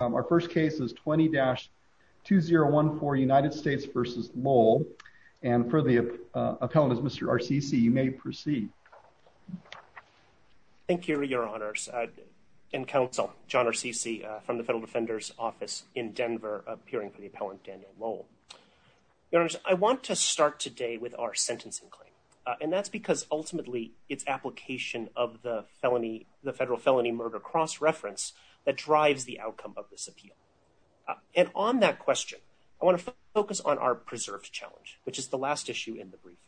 Our first case is 20-2014 United States v. Lowell. And for the appellant, Mr. Rcc, you may proceed. Thank you, your honors. And counsel, John Rcc from the Federal Defender's Office in Denver, appearing for the appellant Daniel Lowell. Your honors, I want to start today with our sentencing claim. And that's because ultimately its application of the felony, the federal felony murder cross-reference that drives the outcome of this appeal. And on that question, I want to focus on our preserved challenge, which is the last issue in the briefing.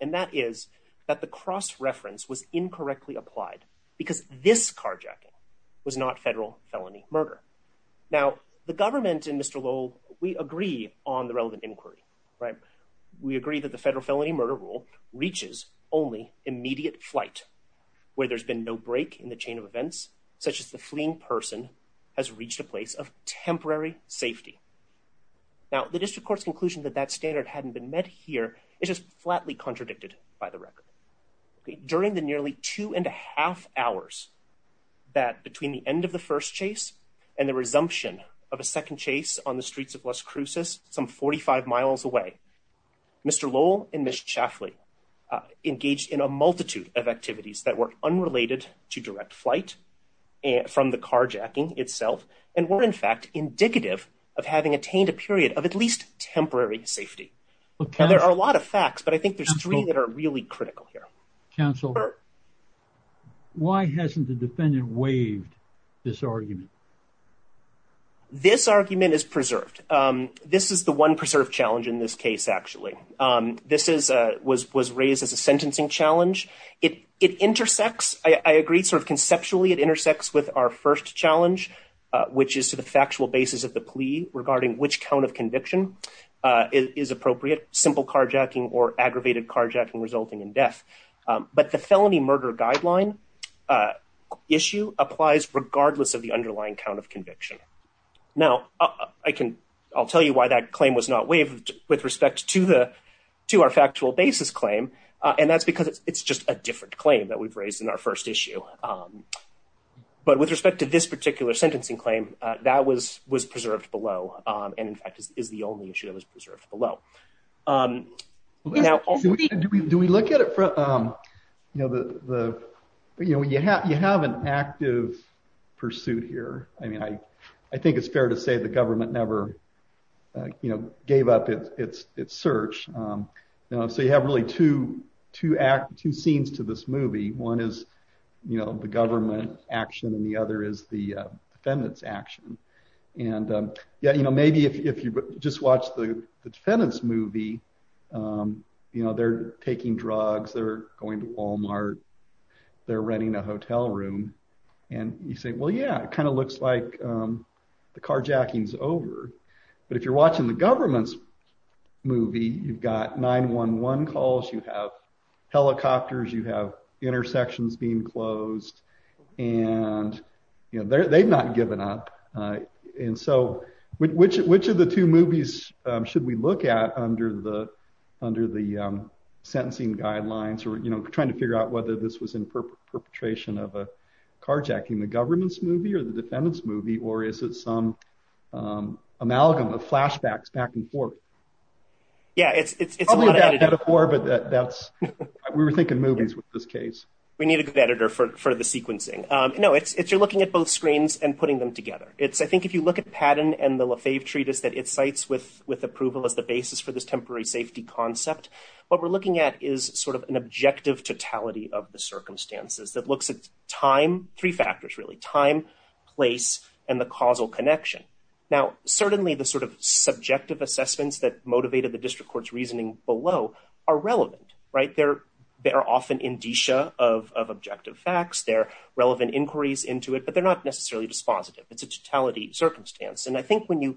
And that is that the cross-reference was incorrectly applied because this carjacking was not federal felony murder. Now, the government and Mr. Lowell, we agree on the relevant inquiry, right? We agree that the federal felony murder rule reaches only immediate flight, where there's been no break in the chain of events, such as the fleeing person has reached a place of temporary safety. Now, the district court's conclusion that that standard hadn't been met here is just flatly contradicted by the record. During the nearly two and a half hours that between the end of the first chase and the resumption of a second chase on the streets of Las Cruces, some 45 miles away, Mr. Lowell and Ms. Chaffley engaged in a multitude of activities that were unrelated to direct flight from the carjacking itself, and were in fact indicative of having attained a period of at least temporary safety. There are a lot of facts, but I think there's three that are really critical here. Counselor, why hasn't the defendant waived this argument? This argument is preserved. This is the one preserved challenge in this case, actually. This was raised as a sentencing challenge. It intersects, I agree, sort of conceptually it intersects with our first challenge, which is to the factual basis of the plea regarding which count of conviction is appropriate, simple carjacking or aggravated carjacking resulting in death. But the felony murder guideline issue applies regardless of the underlying count of conviction. Now, I can, I'll tell you why that claim was not waived with respect to the, to our factual basis claim, and that's because it's just a different claim that we've raised in our first issue. But with respect to this particular sentencing claim, that was preserved below, and in fact is the only issue that was preserved below. Now, do we look at it from, you know, the, the, you know, you have, you have an active pursuit here. I mean, I, I think it's fair to say the government never, you know, gave up its, its, its search. You know, so you have really two, two scenes to this movie. One is, you know, the government action and the other is the defendant's action. And yeah, you know, maybe if you just watch the defendant's movie, you know, they're taking drugs, they're going to Walmart, they're renting a hotel room. And you say, well, yeah, it kind of looks like the carjacking's over. But if you're watching the government's movie, you've got 911 calls, you have helicopters, you have intersections being closed, and, you know, they're, they've not given up. And so, which, which of the two movies should we look at under the, under the sentencing guidelines, or, you know, trying to figure out whether this was in perpetration of a carjacking, the government's movie or the defendant's movie, or is it some amalgam of flashbacks back and forth? Yeah, it's, it's a metaphor, but that's, we were thinking movies with this case. We need a good editor for, for the sequencing. No, it's, it's, you're looking at both screens and putting them together. It's, I think if you look at Patton and the Lefebvre treatise that it cites with, with approval as the basis for this temporary safety concept, what we're looking at is sort of an objective totality of the circumstances that looks at time, three factors, really time, place, and the causal connection. Now, certainly the sort of subjective assessments that motivated the district court's reasoning below are relevant, right? They're, they're often indicia of, of objective facts, they're relevant inquiries into it, but they're not necessarily dispositive. It's a totality circumstance. And I think when you,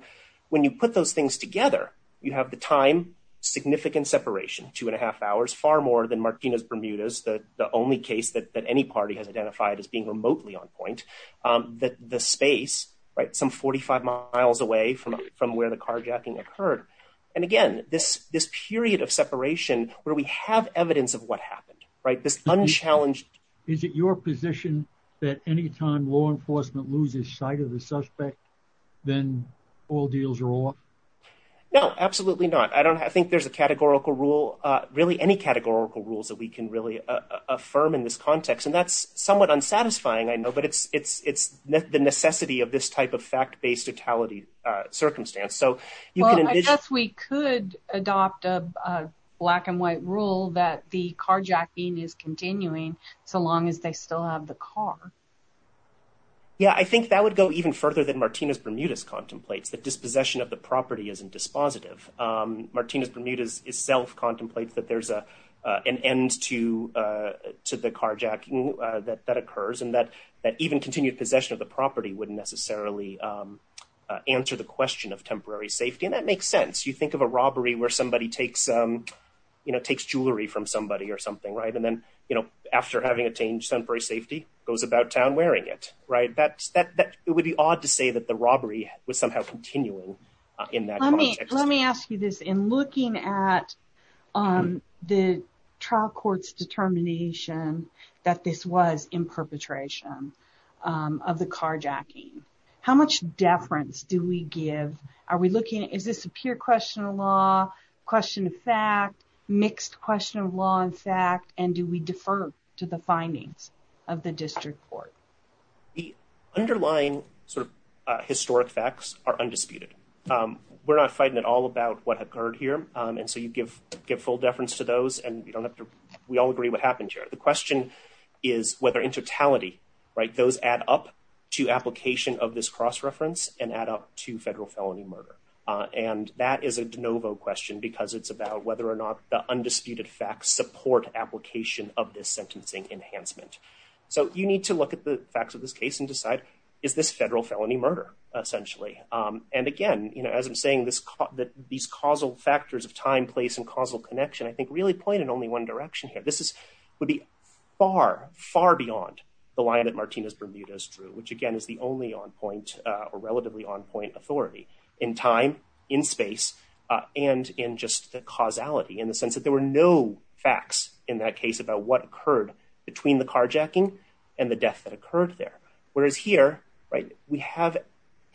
when you put those things together, you have the time significant separation, two and a half hours, far more than Martinez-Bermudez, the only case that any party has identified as being remotely on point, that the space, right, some 45 miles away from, from where the carjacking occurred. And again, this, this period of separation where we have evidence of what happened, right? This unchallenged. Is it your position that anytime law enforcement loses sight of the suspect, then all deals are off? No, absolutely not. I don't, I think there's a categorical rule, really any categorical rules that we can really affirm in this context. And that's somewhat unsatisfying, I know, but it's, it's, it's the necessity of this type of fact-based totality circumstance. So you can. I guess we could adopt a black and white rule that the carjacking is continuing so long as they still have the car. Yeah, I think that would go even further than Martinez-Bermudez contemplates that dispossession of the property isn't dispositive. Martinez-Bermudez itself contemplates that there's a, an end to, to the carjacking that, that occurs and that, that even continued possession of the property wouldn't necessarily answer the question of temporary safety. And that makes sense. You think of a robbery where somebody takes, you know, takes jewelry from somebody or something, right? And then, you know, after having attained temporary safety, goes about town wearing it, right? That, that, that it would be odd to say that the robbery was somehow continuing in that context. Let me ask you this. In looking at the trial court's determination that this was in perpetration of the carjacking, how much deference do we give? Are we looking at, is this a pure question of law, question of fact, mixed question of law and fact, and do we defer to the findings of the trial? And so you give, give full deference to those and you don't have to, we all agree what happened here. The question is whether in totality, right, those add up to application of this cross-reference and add up to federal felony murder. And that is a de novo question because it's about whether or not the undisputed facts support application of this sentencing enhancement. So you need to look at the facts of this case and decide, is this federal felony murder, essentially. And again, you know, as I'm saying this, that these causal factors of time, place, and causal connection, I think really pointed only one direction here. This is, would be far, far beyond the line that Martinez Bermudez drew, which again is the only on point or relatively on point authority in time, in space, and in just the causality in the sense that there were no facts in that case about what occurred between the carjacking and the death that occurred there. Whereas here, right, we have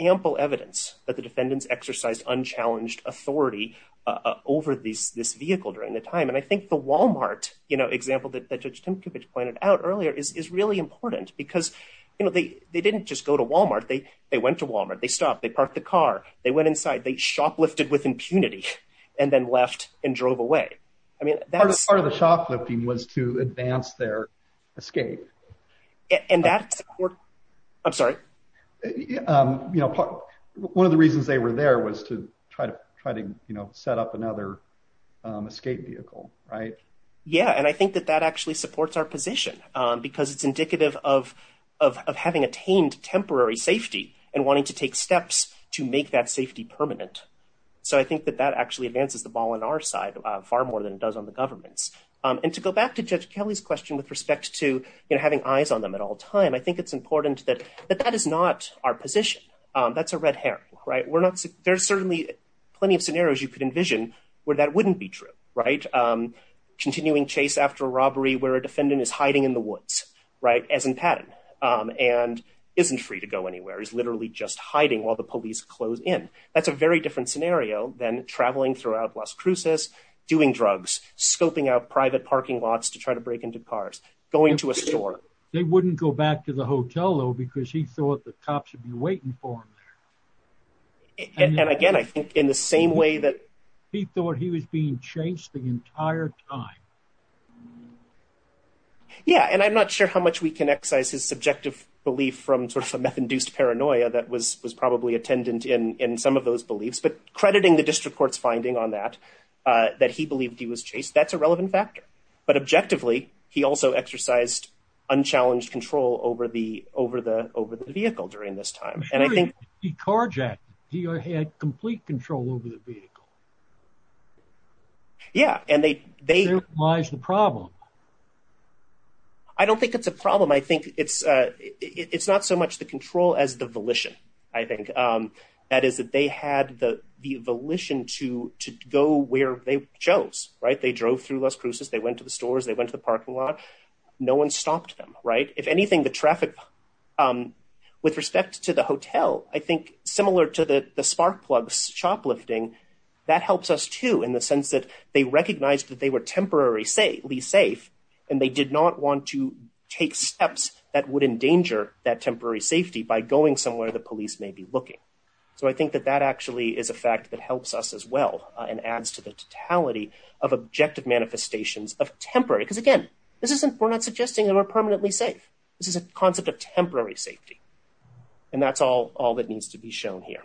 ample evidence that the defendants exercised unchallenged authority, uh, over these, this vehicle during the time. And I think the Walmart, you know, example that Judge Tinkovich pointed out earlier is, is really important because, you know, they, they didn't just go to Walmart. They, they went to Walmart, they stopped, they parked the car, they went inside, they shoplifted with impunity and then left and drove away. I mean, that's part of the shoplifting was to advance their escape. And that's, I'm sorry. You know, one of the reasons they were there was to try to, try to, you know, set up another escape vehicle. Right. Yeah. And I think that that actually supports our position because it's indicative of, of, of having attained temporary safety and wanting to take steps to make that safety permanent. So I think that that actually advances the ball on our side, uh, far more than it does on the government's. Um, and to go back to Judge Kelly's question with respect to, you know, having eyes on them at all time, I think it's important that, that that is not our position. Um, that's a red herring, right? We're not, there's certainly plenty of scenarios you could envision where that wouldn't be true, right? Um, continuing chase after a robbery where a defendant is hiding in the woods, right? As in pattern, um, and isn't free to go anywhere. He's literally just hiding while the police close in. That's a very different scenario than traveling throughout Las Cruces, doing drugs, scoping out private parking lots to try to break into cars, going to a store. They wouldn't go back to the hotel though, because he thought the cops would be waiting for him there. And again, I think in the same way that he thought he was being chased the entire time. Yeah. And I'm not sure how much we can excise his induced paranoia that was, was probably attendant in, in some of those beliefs, but crediting the district court's finding on that, uh, that he believed he was chased. That's a relevant factor, but objectively he also exercised unchallenged control over the, over the, over the vehicle during this time. And I think he carjacked, he had complete control over the vehicle. Yeah. And they, they, why is the problem? I don't think it's a problem. I think it's, uh, it's not so much the control as the volition, I think. Um, that is that they had the, the volition to, to go where they chose, right? They drove through Las Cruces, they went to the stores, they went to the parking lot, no one stopped them, right? If anything, the traffic, um, with respect to the hotel, I think similar to the, the spark plugs shoplifting, that helps us too, in the sense that they recognized that they were temporarily safe, and they did not want to take steps that would endanger that temporary safety by going somewhere the police may be looking. So I think that that actually is a fact that helps us as well and adds to the totality of objective manifestations of temporary. Because again, this isn't, we're not suggesting that we're permanently safe. This is a concept of temporary safety. And that's all, all that needs to be shown here.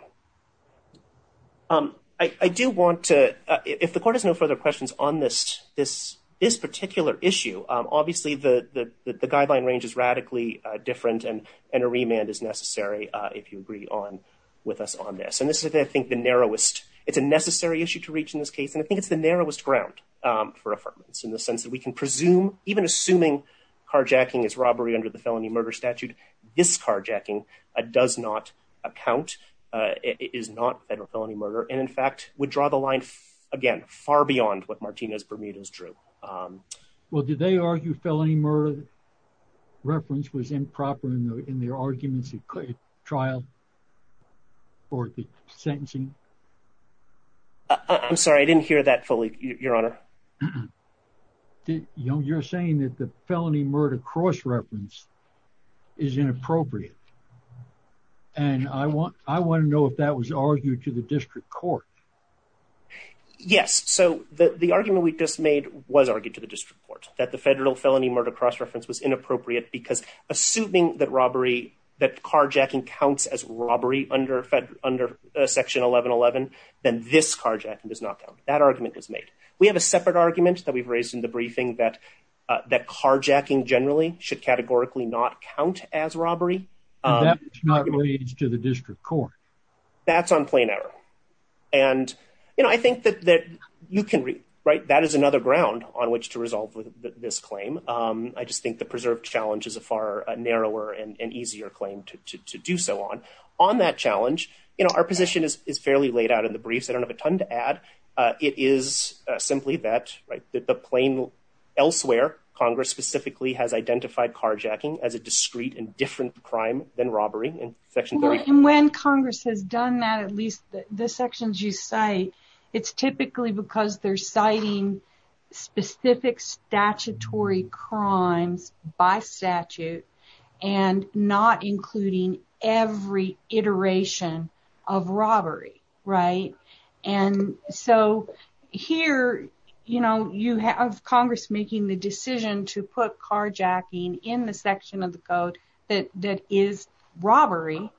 Um, I, I do want to, uh, if the court has no further questions on this, this, this particular issue, um, obviously the, the, the, the guideline range is radically, uh, different and, and a remand is necessary, uh, if you agree on with us on this. And this is, I think, the narrowest, it's a necessary issue to reach in this case. And I think it's the narrowest ground, um, for affirmance in the sense that we can presume, even assuming carjacking is robbery under the felony murder statute, this carjacking, uh, does not account, uh, is not federal felony is true. Um, well, did they argue felony murder reference was improper in the, in their arguments trial or the sentencing? I'm sorry. I didn't hear that fully your honor. You know, you're saying that the felony murder cross-reference is inappropriate. And I want, I want to know if that was argued to the district court. Yes. So the, the argument we just made was argued to the district court that the federal felony murder cross-reference was inappropriate because assuming that robbery, that carjacking counts as robbery under fed under a section 1111, then this carjacking does not count. That argument was made. We have a separate argument that we've raised in the briefing that, uh, that carjacking generally should categorically not count as robbery. Um, it's not really, it's to the district court. That's on plain error. And, you know, I think that, that you can read, right. That is another ground on which to resolve this claim. Um, I just think the preserved challenge is a far narrower and easier claim to, to, to do so on, on that challenge. You know, our position is, is fairly laid out in the briefs. I don't have a ton to add. Uh, it is simply that, right. That the plain elsewhere, Congress specifically has identified carjacking as a discreet and crime than robbery. And when Congress has done that, at least the sections you say, it's typically because they're citing specific statutory crimes by statute and not including every iteration of robbery. Right. And so here, you know, you have Congress making the decision to put carjacking in the section of the code that, that is robbery.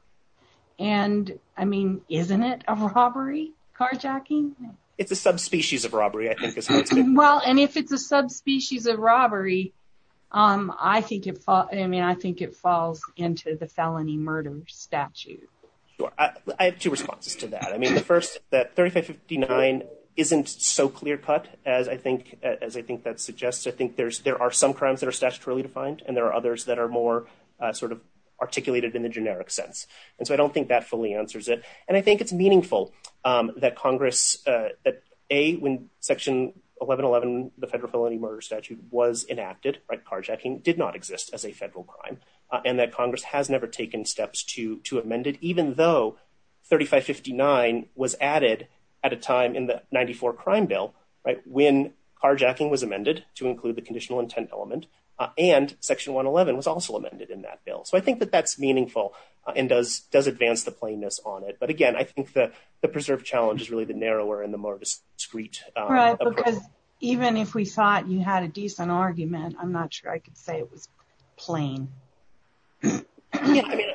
And I mean, isn't it a robbery carjacking? It's a subspecies of robbery, I think. Well, and if it's a subspecies of robbery, um, I think it, I mean, I think it falls into the felony murder statute. I have two responses to that. I mean, the first that 3559 isn't so clear cut as I think, as I think that suggests, I think there's, there are some crimes that are statutorily defined and there are others that are more, uh, sort of articulated in the generic sense. And so I don't think that fully answers it. And I think it's meaningful, um, that Congress, uh, that A, when section 1111, the federal felony murder statute was enacted, right, carjacking did not exist as a federal crime. Uh, and that Congress has never taken steps to, to amend it, even though 3559 was added at a time in the 94 crime bill, right? When carjacking was amended to include the conditional intent element, uh, and section 111 was also amended in that bill. So I think that that's meaningful, uh, and does, does advance the plainness on it. But again, I think that the preserved challenge is really the narrower and the more discreet, uh, because even if we thought you had a decent argument, I'm not sure I could say it was plain. Yeah. I mean,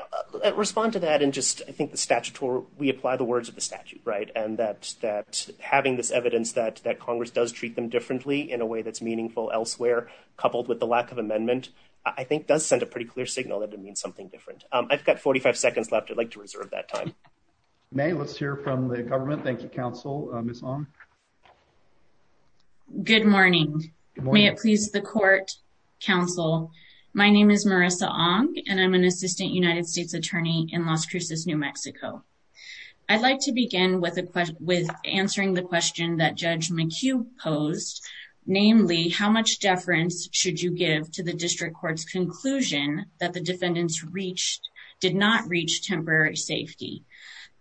respond to that. And just, I think the statutory, we apply the words of the statute, right? And that, that having this evidence that, that Congress does treat them differently in a way that's meaningful elsewhere, coupled with the lack of amendment, I think does send a pretty clear signal that it means something different. Um, I've got 45 seconds left. I'd like to reserve that time. May let's hear from the government. Thank you. Council. Um, it's on. Good morning. May it please the court council. My name is Marissa Ong and I'm an assistant United States attorney in Las Cruces, New Mexico. I'd like to begin with a question with answering the question that judge McHugh posed, namely how much deference should you give to the district court's conclusion that the defendants reached did not reach temporary safety.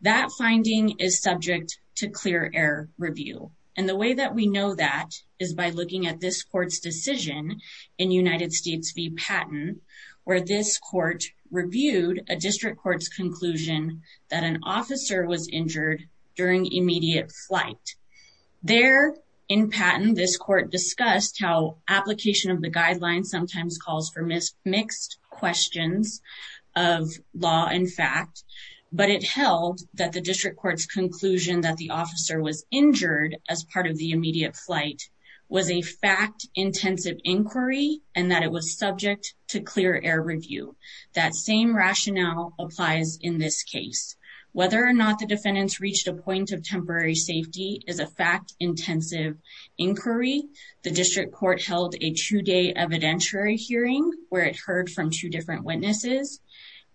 That finding is subject to clear air review. And the way that we know that is by looking at this court's decision in United States v. Patton, where this court reviewed a district court's conclusion that an officer was injured during immediate flight. There in Patton, this court discussed how application of the guidelines sometimes calls for mixed questions of law and fact, but it held that the district court's conclusion that the officer was injured as part of the and that it was subject to clear air review. That same rationale applies in this case, whether or not the defendants reached a point of temporary safety is a fact intensive inquiry. The district court held a two day evidentiary hearing where it heard from two different witnesses.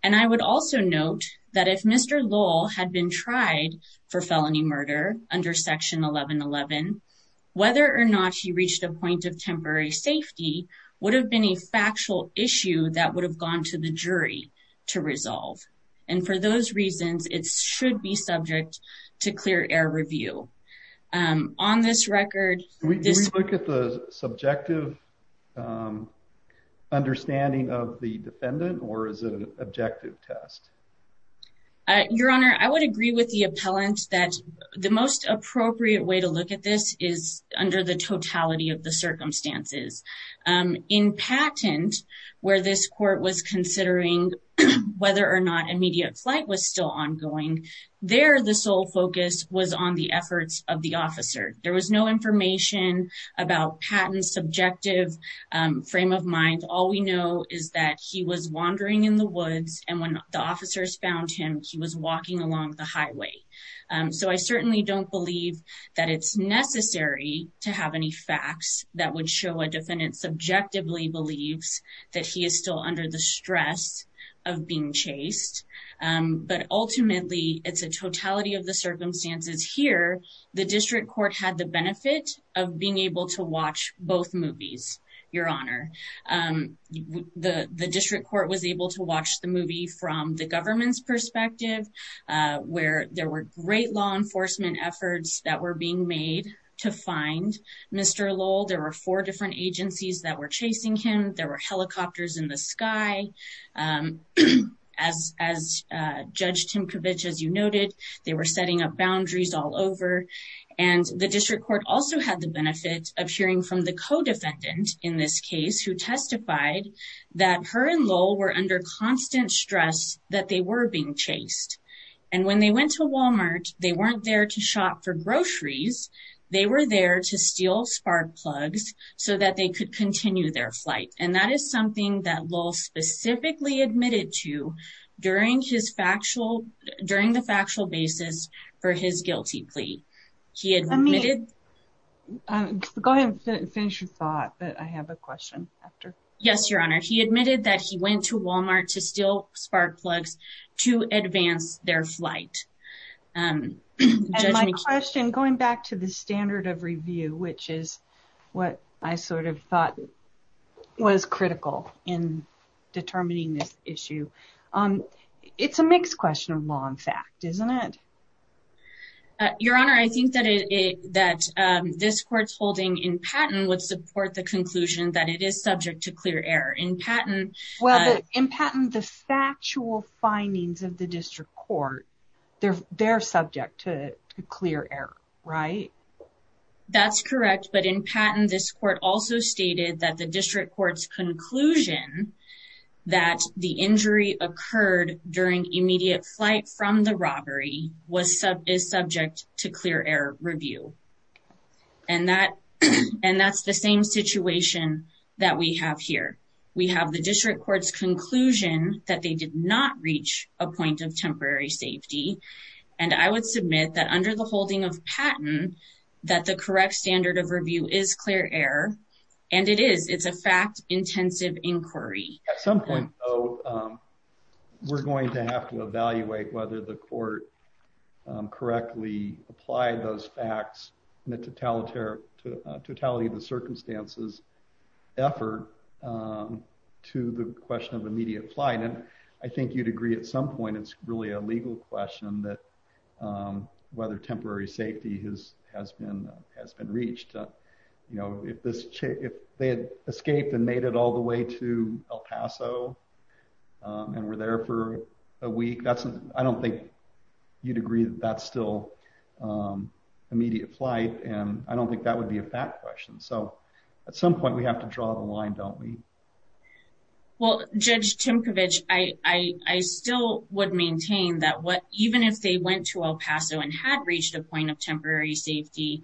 And I would also note that if Mr. Lowell had been tried for felony murder under section 1111, whether or not he reached a point of temporary safety would have been a factual issue that would have gone to the jury to resolve. And for those reasons, it should be subject to clear air review. On this record... Do we look at the subjective understanding of the defendant or is it an objective test? Your Honor, I would agree with the appellant that the most appropriate way to look at this is under the totality of the circumstances. In Patton, where this court was considering whether or not immediate flight was still ongoing, there the sole focus was on the efforts of the officer. There was no information about Patton's subjective frame of mind. All we know is that he was wandering in the woods and when the officers found him, he was walking along the highway. So I certainly don't believe that it's necessary to have any facts that would show a defendant subjectively believes that he is still under the stress of being chased. But ultimately, it's a totality of the circumstances here. The district court had the benefit of being able to watch both movies, Your Honor. The district court was able to watch the movie from the government's perspective, where there were great law enforcement efforts that were being made to find Mr. Lowell. There were four different agencies that were chasing him. There were helicopters in the sky. As Judge Timkovich, as you noted, they were setting up boundaries all over. The district court also had the benefit of hearing from the co-defendant in this case, who testified that her and Lowell were under constant stress that they were being chased. When they went to Walmart, they weren't there to shop for groceries. They were there to steal spark plugs so that they could continue their flight. That is something that Lowell specifically admitted to during the factual basis for his guilty plea. He admitted that he went to Walmart to steal spark plugs to advance their flight. My question, going back to the standard of review, which is what I thought was critical in determining this issue. It's a mixed question of law and fact, isn't it? Your Honor, I think that this court's holding in patent would support the conclusion that it is subject to clear error. In patent, the factual findings of the district court, they're subject to clear error, right? That's correct. In patent, this court also stated that the district court's conclusion that the injury occurred during immediate flight from the robbery is subject to clear error review. That's the same situation that we have here. We have the district court's conclusion that they did not reach a point of temporary safety. I would submit that under the holding of patent, that the correct standard of review is clear error, and it is. It's a fact-intensive inquiry. At some point, though, we're going to have to evaluate whether the court correctly applied those facts in the totality of the circumstances effort to the question of immediate flight. I think you'd agree at some point, it's really a legal question that whether temporary safety has been reached. If they had escaped and made it all the way to El Paso and were there for a week, I don't think you'd agree that that's still immediate flight. I don't think that would be a fact question. At some point, we have to draw the line, don't we? Well, Judge Timcovich, I still would maintain that even if they went to El Paso and had reached a point of temporary safety,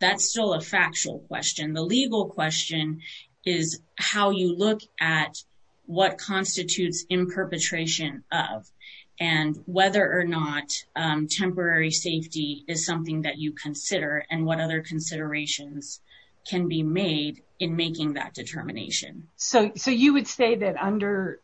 that's still a factual question. The legal question is how you look at what constitutes in perpetration of and whether or not temporary safety is something that you consider and what other considerations can be made in making that determination. You would say that under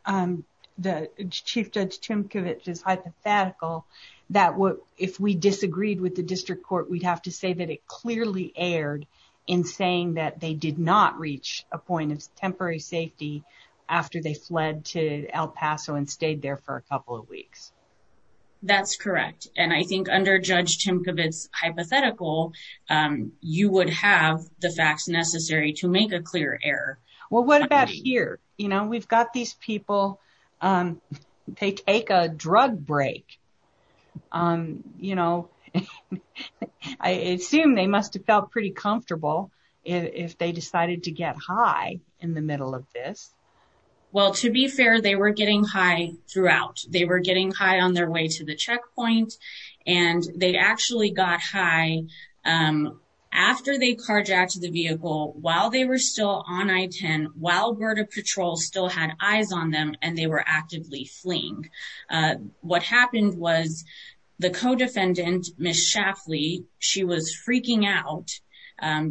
the Chief Judge Timcovich's hypothetical, that if we disagreed with the district court, we'd have to say that it clearly erred in saying that they did not reach a point of temporary safety after they fled to El Paso and stayed there for a couple of weeks. That's correct. And I think under Judge Timcovich's hypothetical, you would have the facts necessary to make a clear error. Well, what about here? We've got these people, they take a drug break. I assume they must have felt pretty comfortable if they decided to get high in the middle of this. Well, to be fair, they were getting high throughout. They were getting high on their way to the checkpoint and they actually got high after they carjacked the vehicle while they were still on I-10, while Berta Patrol still had eyes on them and they were actively fleeing. What happened was the co-defendant, Ms. Schaffley, she was freaking out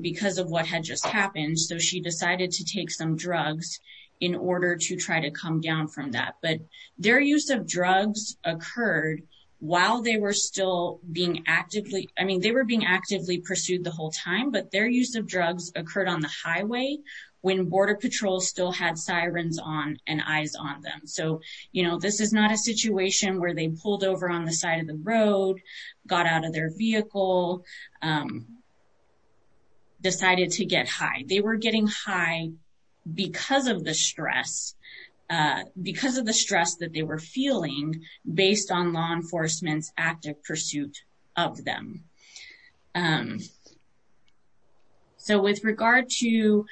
because of what had just happened. So she decided to take some drugs in order to try to come down from that. But their use of drugs occurred while they were still being actively, I mean, they were being actively pursued the whole time, but their use of drugs occurred on the highway when Border Patrol still had sirens on and eyes on them. So, you know, this is not a situation where they decided to get high. They were getting high because of the stress, because of the stress that they were feeling based on law enforcement's active pursuit of them. So with regard to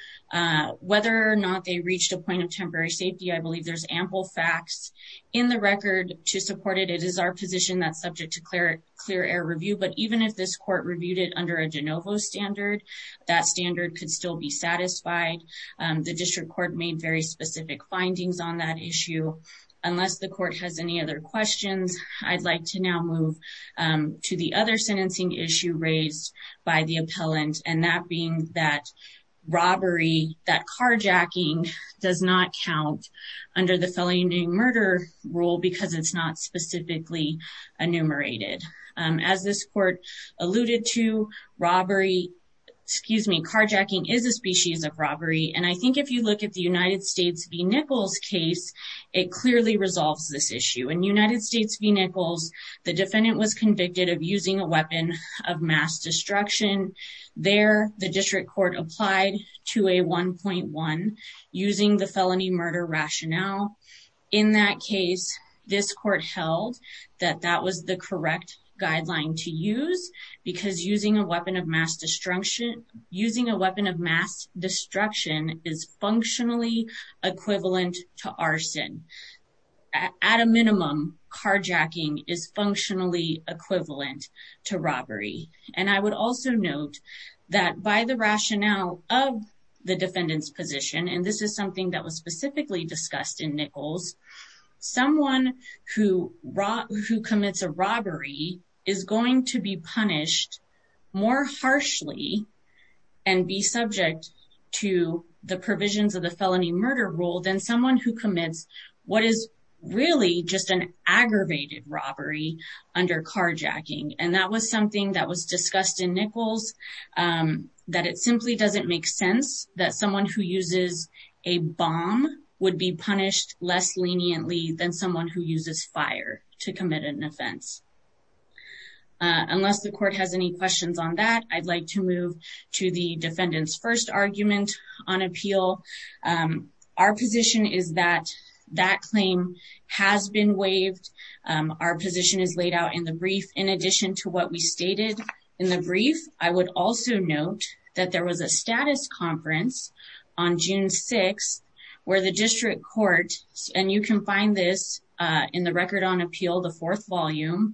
whether or not they reached a point of temporary safety, I believe there's ample facts in the record to support it. It is our position that's subject to clear error review, but even if this court reviewed it under a de novo standard, that standard could still be satisfied. The district court made very specific findings on that issue. Unless the court has any other questions, I'd like to now move to the other sentencing issue raised by the appellant, and that being that robbery, that carjacking does not count under the felony murder rule because it's not specifically enumerated. As this court alluded to, robbery, excuse me, carjacking is a species of robbery, and I think if you look at the United States v. Nichols case, it clearly resolves this issue. In United States v. Nichols, the defendant was convicted of using a weapon of mass destruction. There, the district court applied to a 1.1 using the felony murder rationale. In that case, this court held that that was the correct guideline to use because using a weapon of mass destruction is functionally equivalent to arson. At a minimum, carjacking is functionally equivalent to robbery, and I would also note that by the rationale of the defendant's position, and this is something that was specifically discussed in Nichols, someone who commits a robbery is going to be punished more harshly and be subject to the provisions of the felony murder rule than someone who commits what is really just an aggravated robbery under carjacking, and that was something that was discussed in Nichols, that it simply doesn't make sense that someone who uses a bomb would be punished less leniently than someone who uses fire to commit an offense. Unless the court has any questions on that, I'd like to move to the defendant's first argument on appeal. Our position is that that claim has been waived. Our position is laid out in the brief. In addition to what we stated in the brief, I would also note that there was a status conference on June 6th where the district court, and you can find this in the Record on Appeal, the fourth volume,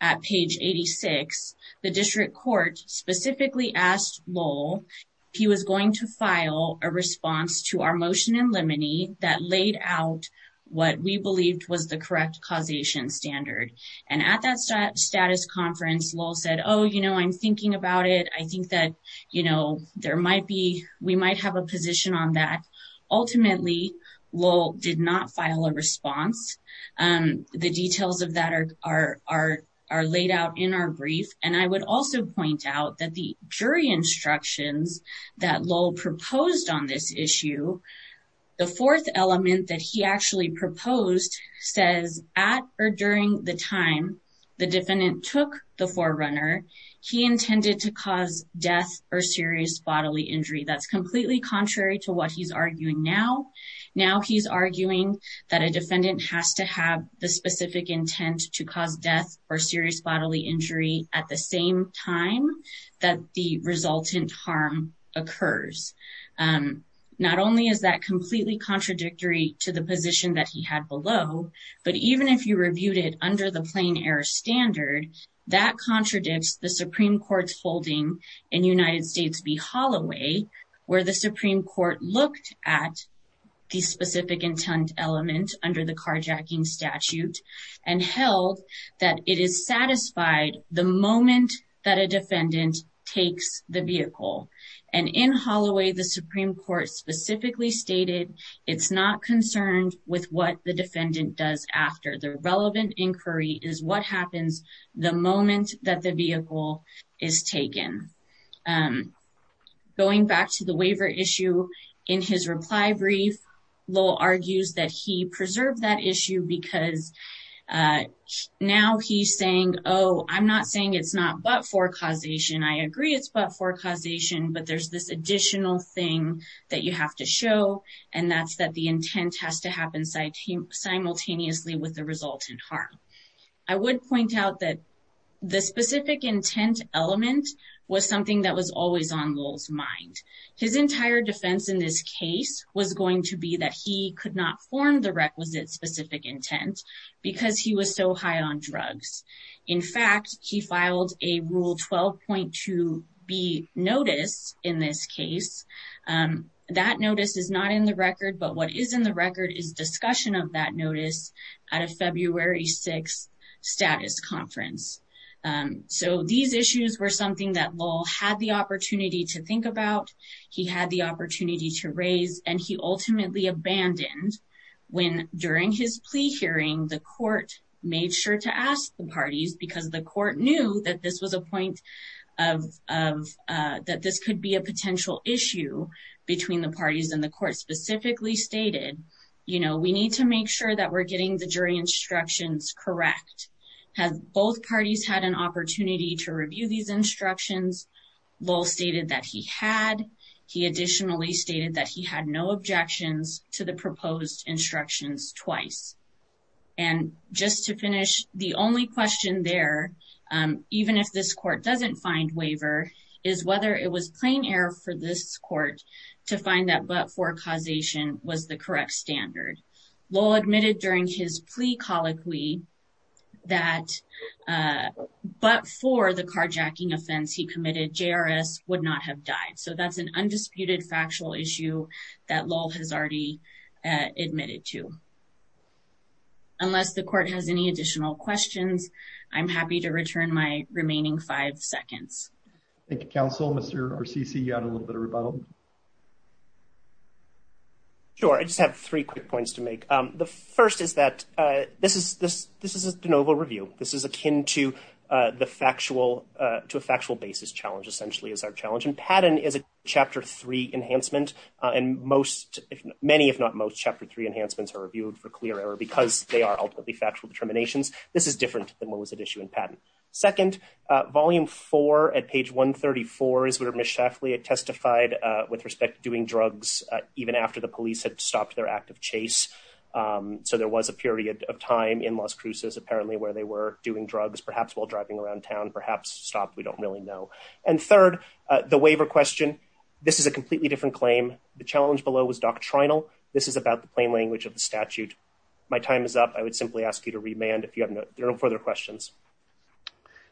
at page 86. The district court specifically asked Lowell if he was going to file a response to our motion in limine that laid out what we believed was the correct causation standard, and at that status conference, Lowell said, oh, you know, I'm thinking about it. I think that, you know, there might be, we might have a position on that. Ultimately, Lowell did not file a response. The details of that are laid out in our brief, and I would also point out that the jury instructions that Lowell proposed on this issue, the fourth element that he actually proposed says at or during the time the defendant took the forerunner, he intended to cause death or serious bodily injury. That's completely contrary to what he's arguing now. Now he's arguing that a defendant has to have the specific intent to cause death or serious bodily injury at the same time that the resultant harm occurs. Not only is that completely contradictory to the position that he had below, but even if you standard, that contradicts the Supreme Court's holding in United States v. Holloway where the Supreme Court looked at the specific intent element under the carjacking statute and held that it is satisfied the moment that a defendant takes the vehicle, and in Holloway, the Supreme Court specifically stated it's not concerned with what the defendant does after. The relevant inquiry is what happens the moment that the vehicle is taken. Going back to the waiver issue, in his reply brief, Lowell argues that he preserved that issue because now he's saying, oh, I'm not saying it's not but-for causation. I agree it's but-for causation, but there's this additional thing that you have to show, and that's that the intent has to happen simultaneously with the resultant harm. I would point out that the specific intent element was something that was always on Lowell's mind. His entire defense in this case was going to be that he could not form the requisite specific intent because he was so high on drugs. In fact, he filed a Rule 12.2B notice in this case. That notice is not in the record, but what is in the record is discussion of that notice at a February 6th status conference. These issues were something that Lowell had the opportunity to think about. He had the opportunity to raise, and he ultimately abandoned when, during his plea hearing, the court made sure to ask the parties because the court knew that this could be a potential issue between the parties, and the court specifically stated, you know, we need to make sure that we're getting the jury instructions correct. Have both parties had an opportunity to review these instructions? Lowell stated that he had. He additionally stated that he had no objections to the proposed instructions twice. And just to finish, the only question there, even if this court doesn't find waiver, is whether it was plain error for this court to find that but-for causation was the correct standard. Lowell admitted during his plea colloquy that but-for the carjacking offense he committed, JRS would not have died. So that's an undisputed factual issue that Lowell has already admitted to. Unless the court has any additional questions, I'm happy to return my remaining five seconds. Thank you, counsel. Mr. Orsici, you had a little bit of a rebuttal. Sure. I just have three quick points to make. The first is that this is a de novo review. This is akin to a factual basis challenge, essentially, is our challenge. And Padden is a Chapter 3 enhancement, and many, if not most, Chapter 3 enhancements are reviewed for clear error because they are ultimately factual determinations. This is different than what was at issue in Padden. Second, Volume 4 at page 134 is where Ms. Shaffley testified with respect to doing drugs even after the police had stopped their active chase. So there was a period of time in Las Cruces, apparently, where they were doing drugs, perhaps while driving around town, perhaps stopped, we don't really know. And third, the waiver question, this is a completely different claim. The challenge below was doctrinal. This is about the plain language of the statute. My time is up. I would simply ask you to remand if you have no further questions.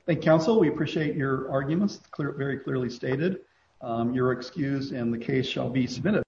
Thank you, counsel. We appreciate your arguments, very clearly stated. Your excuse and the case shall be submitted.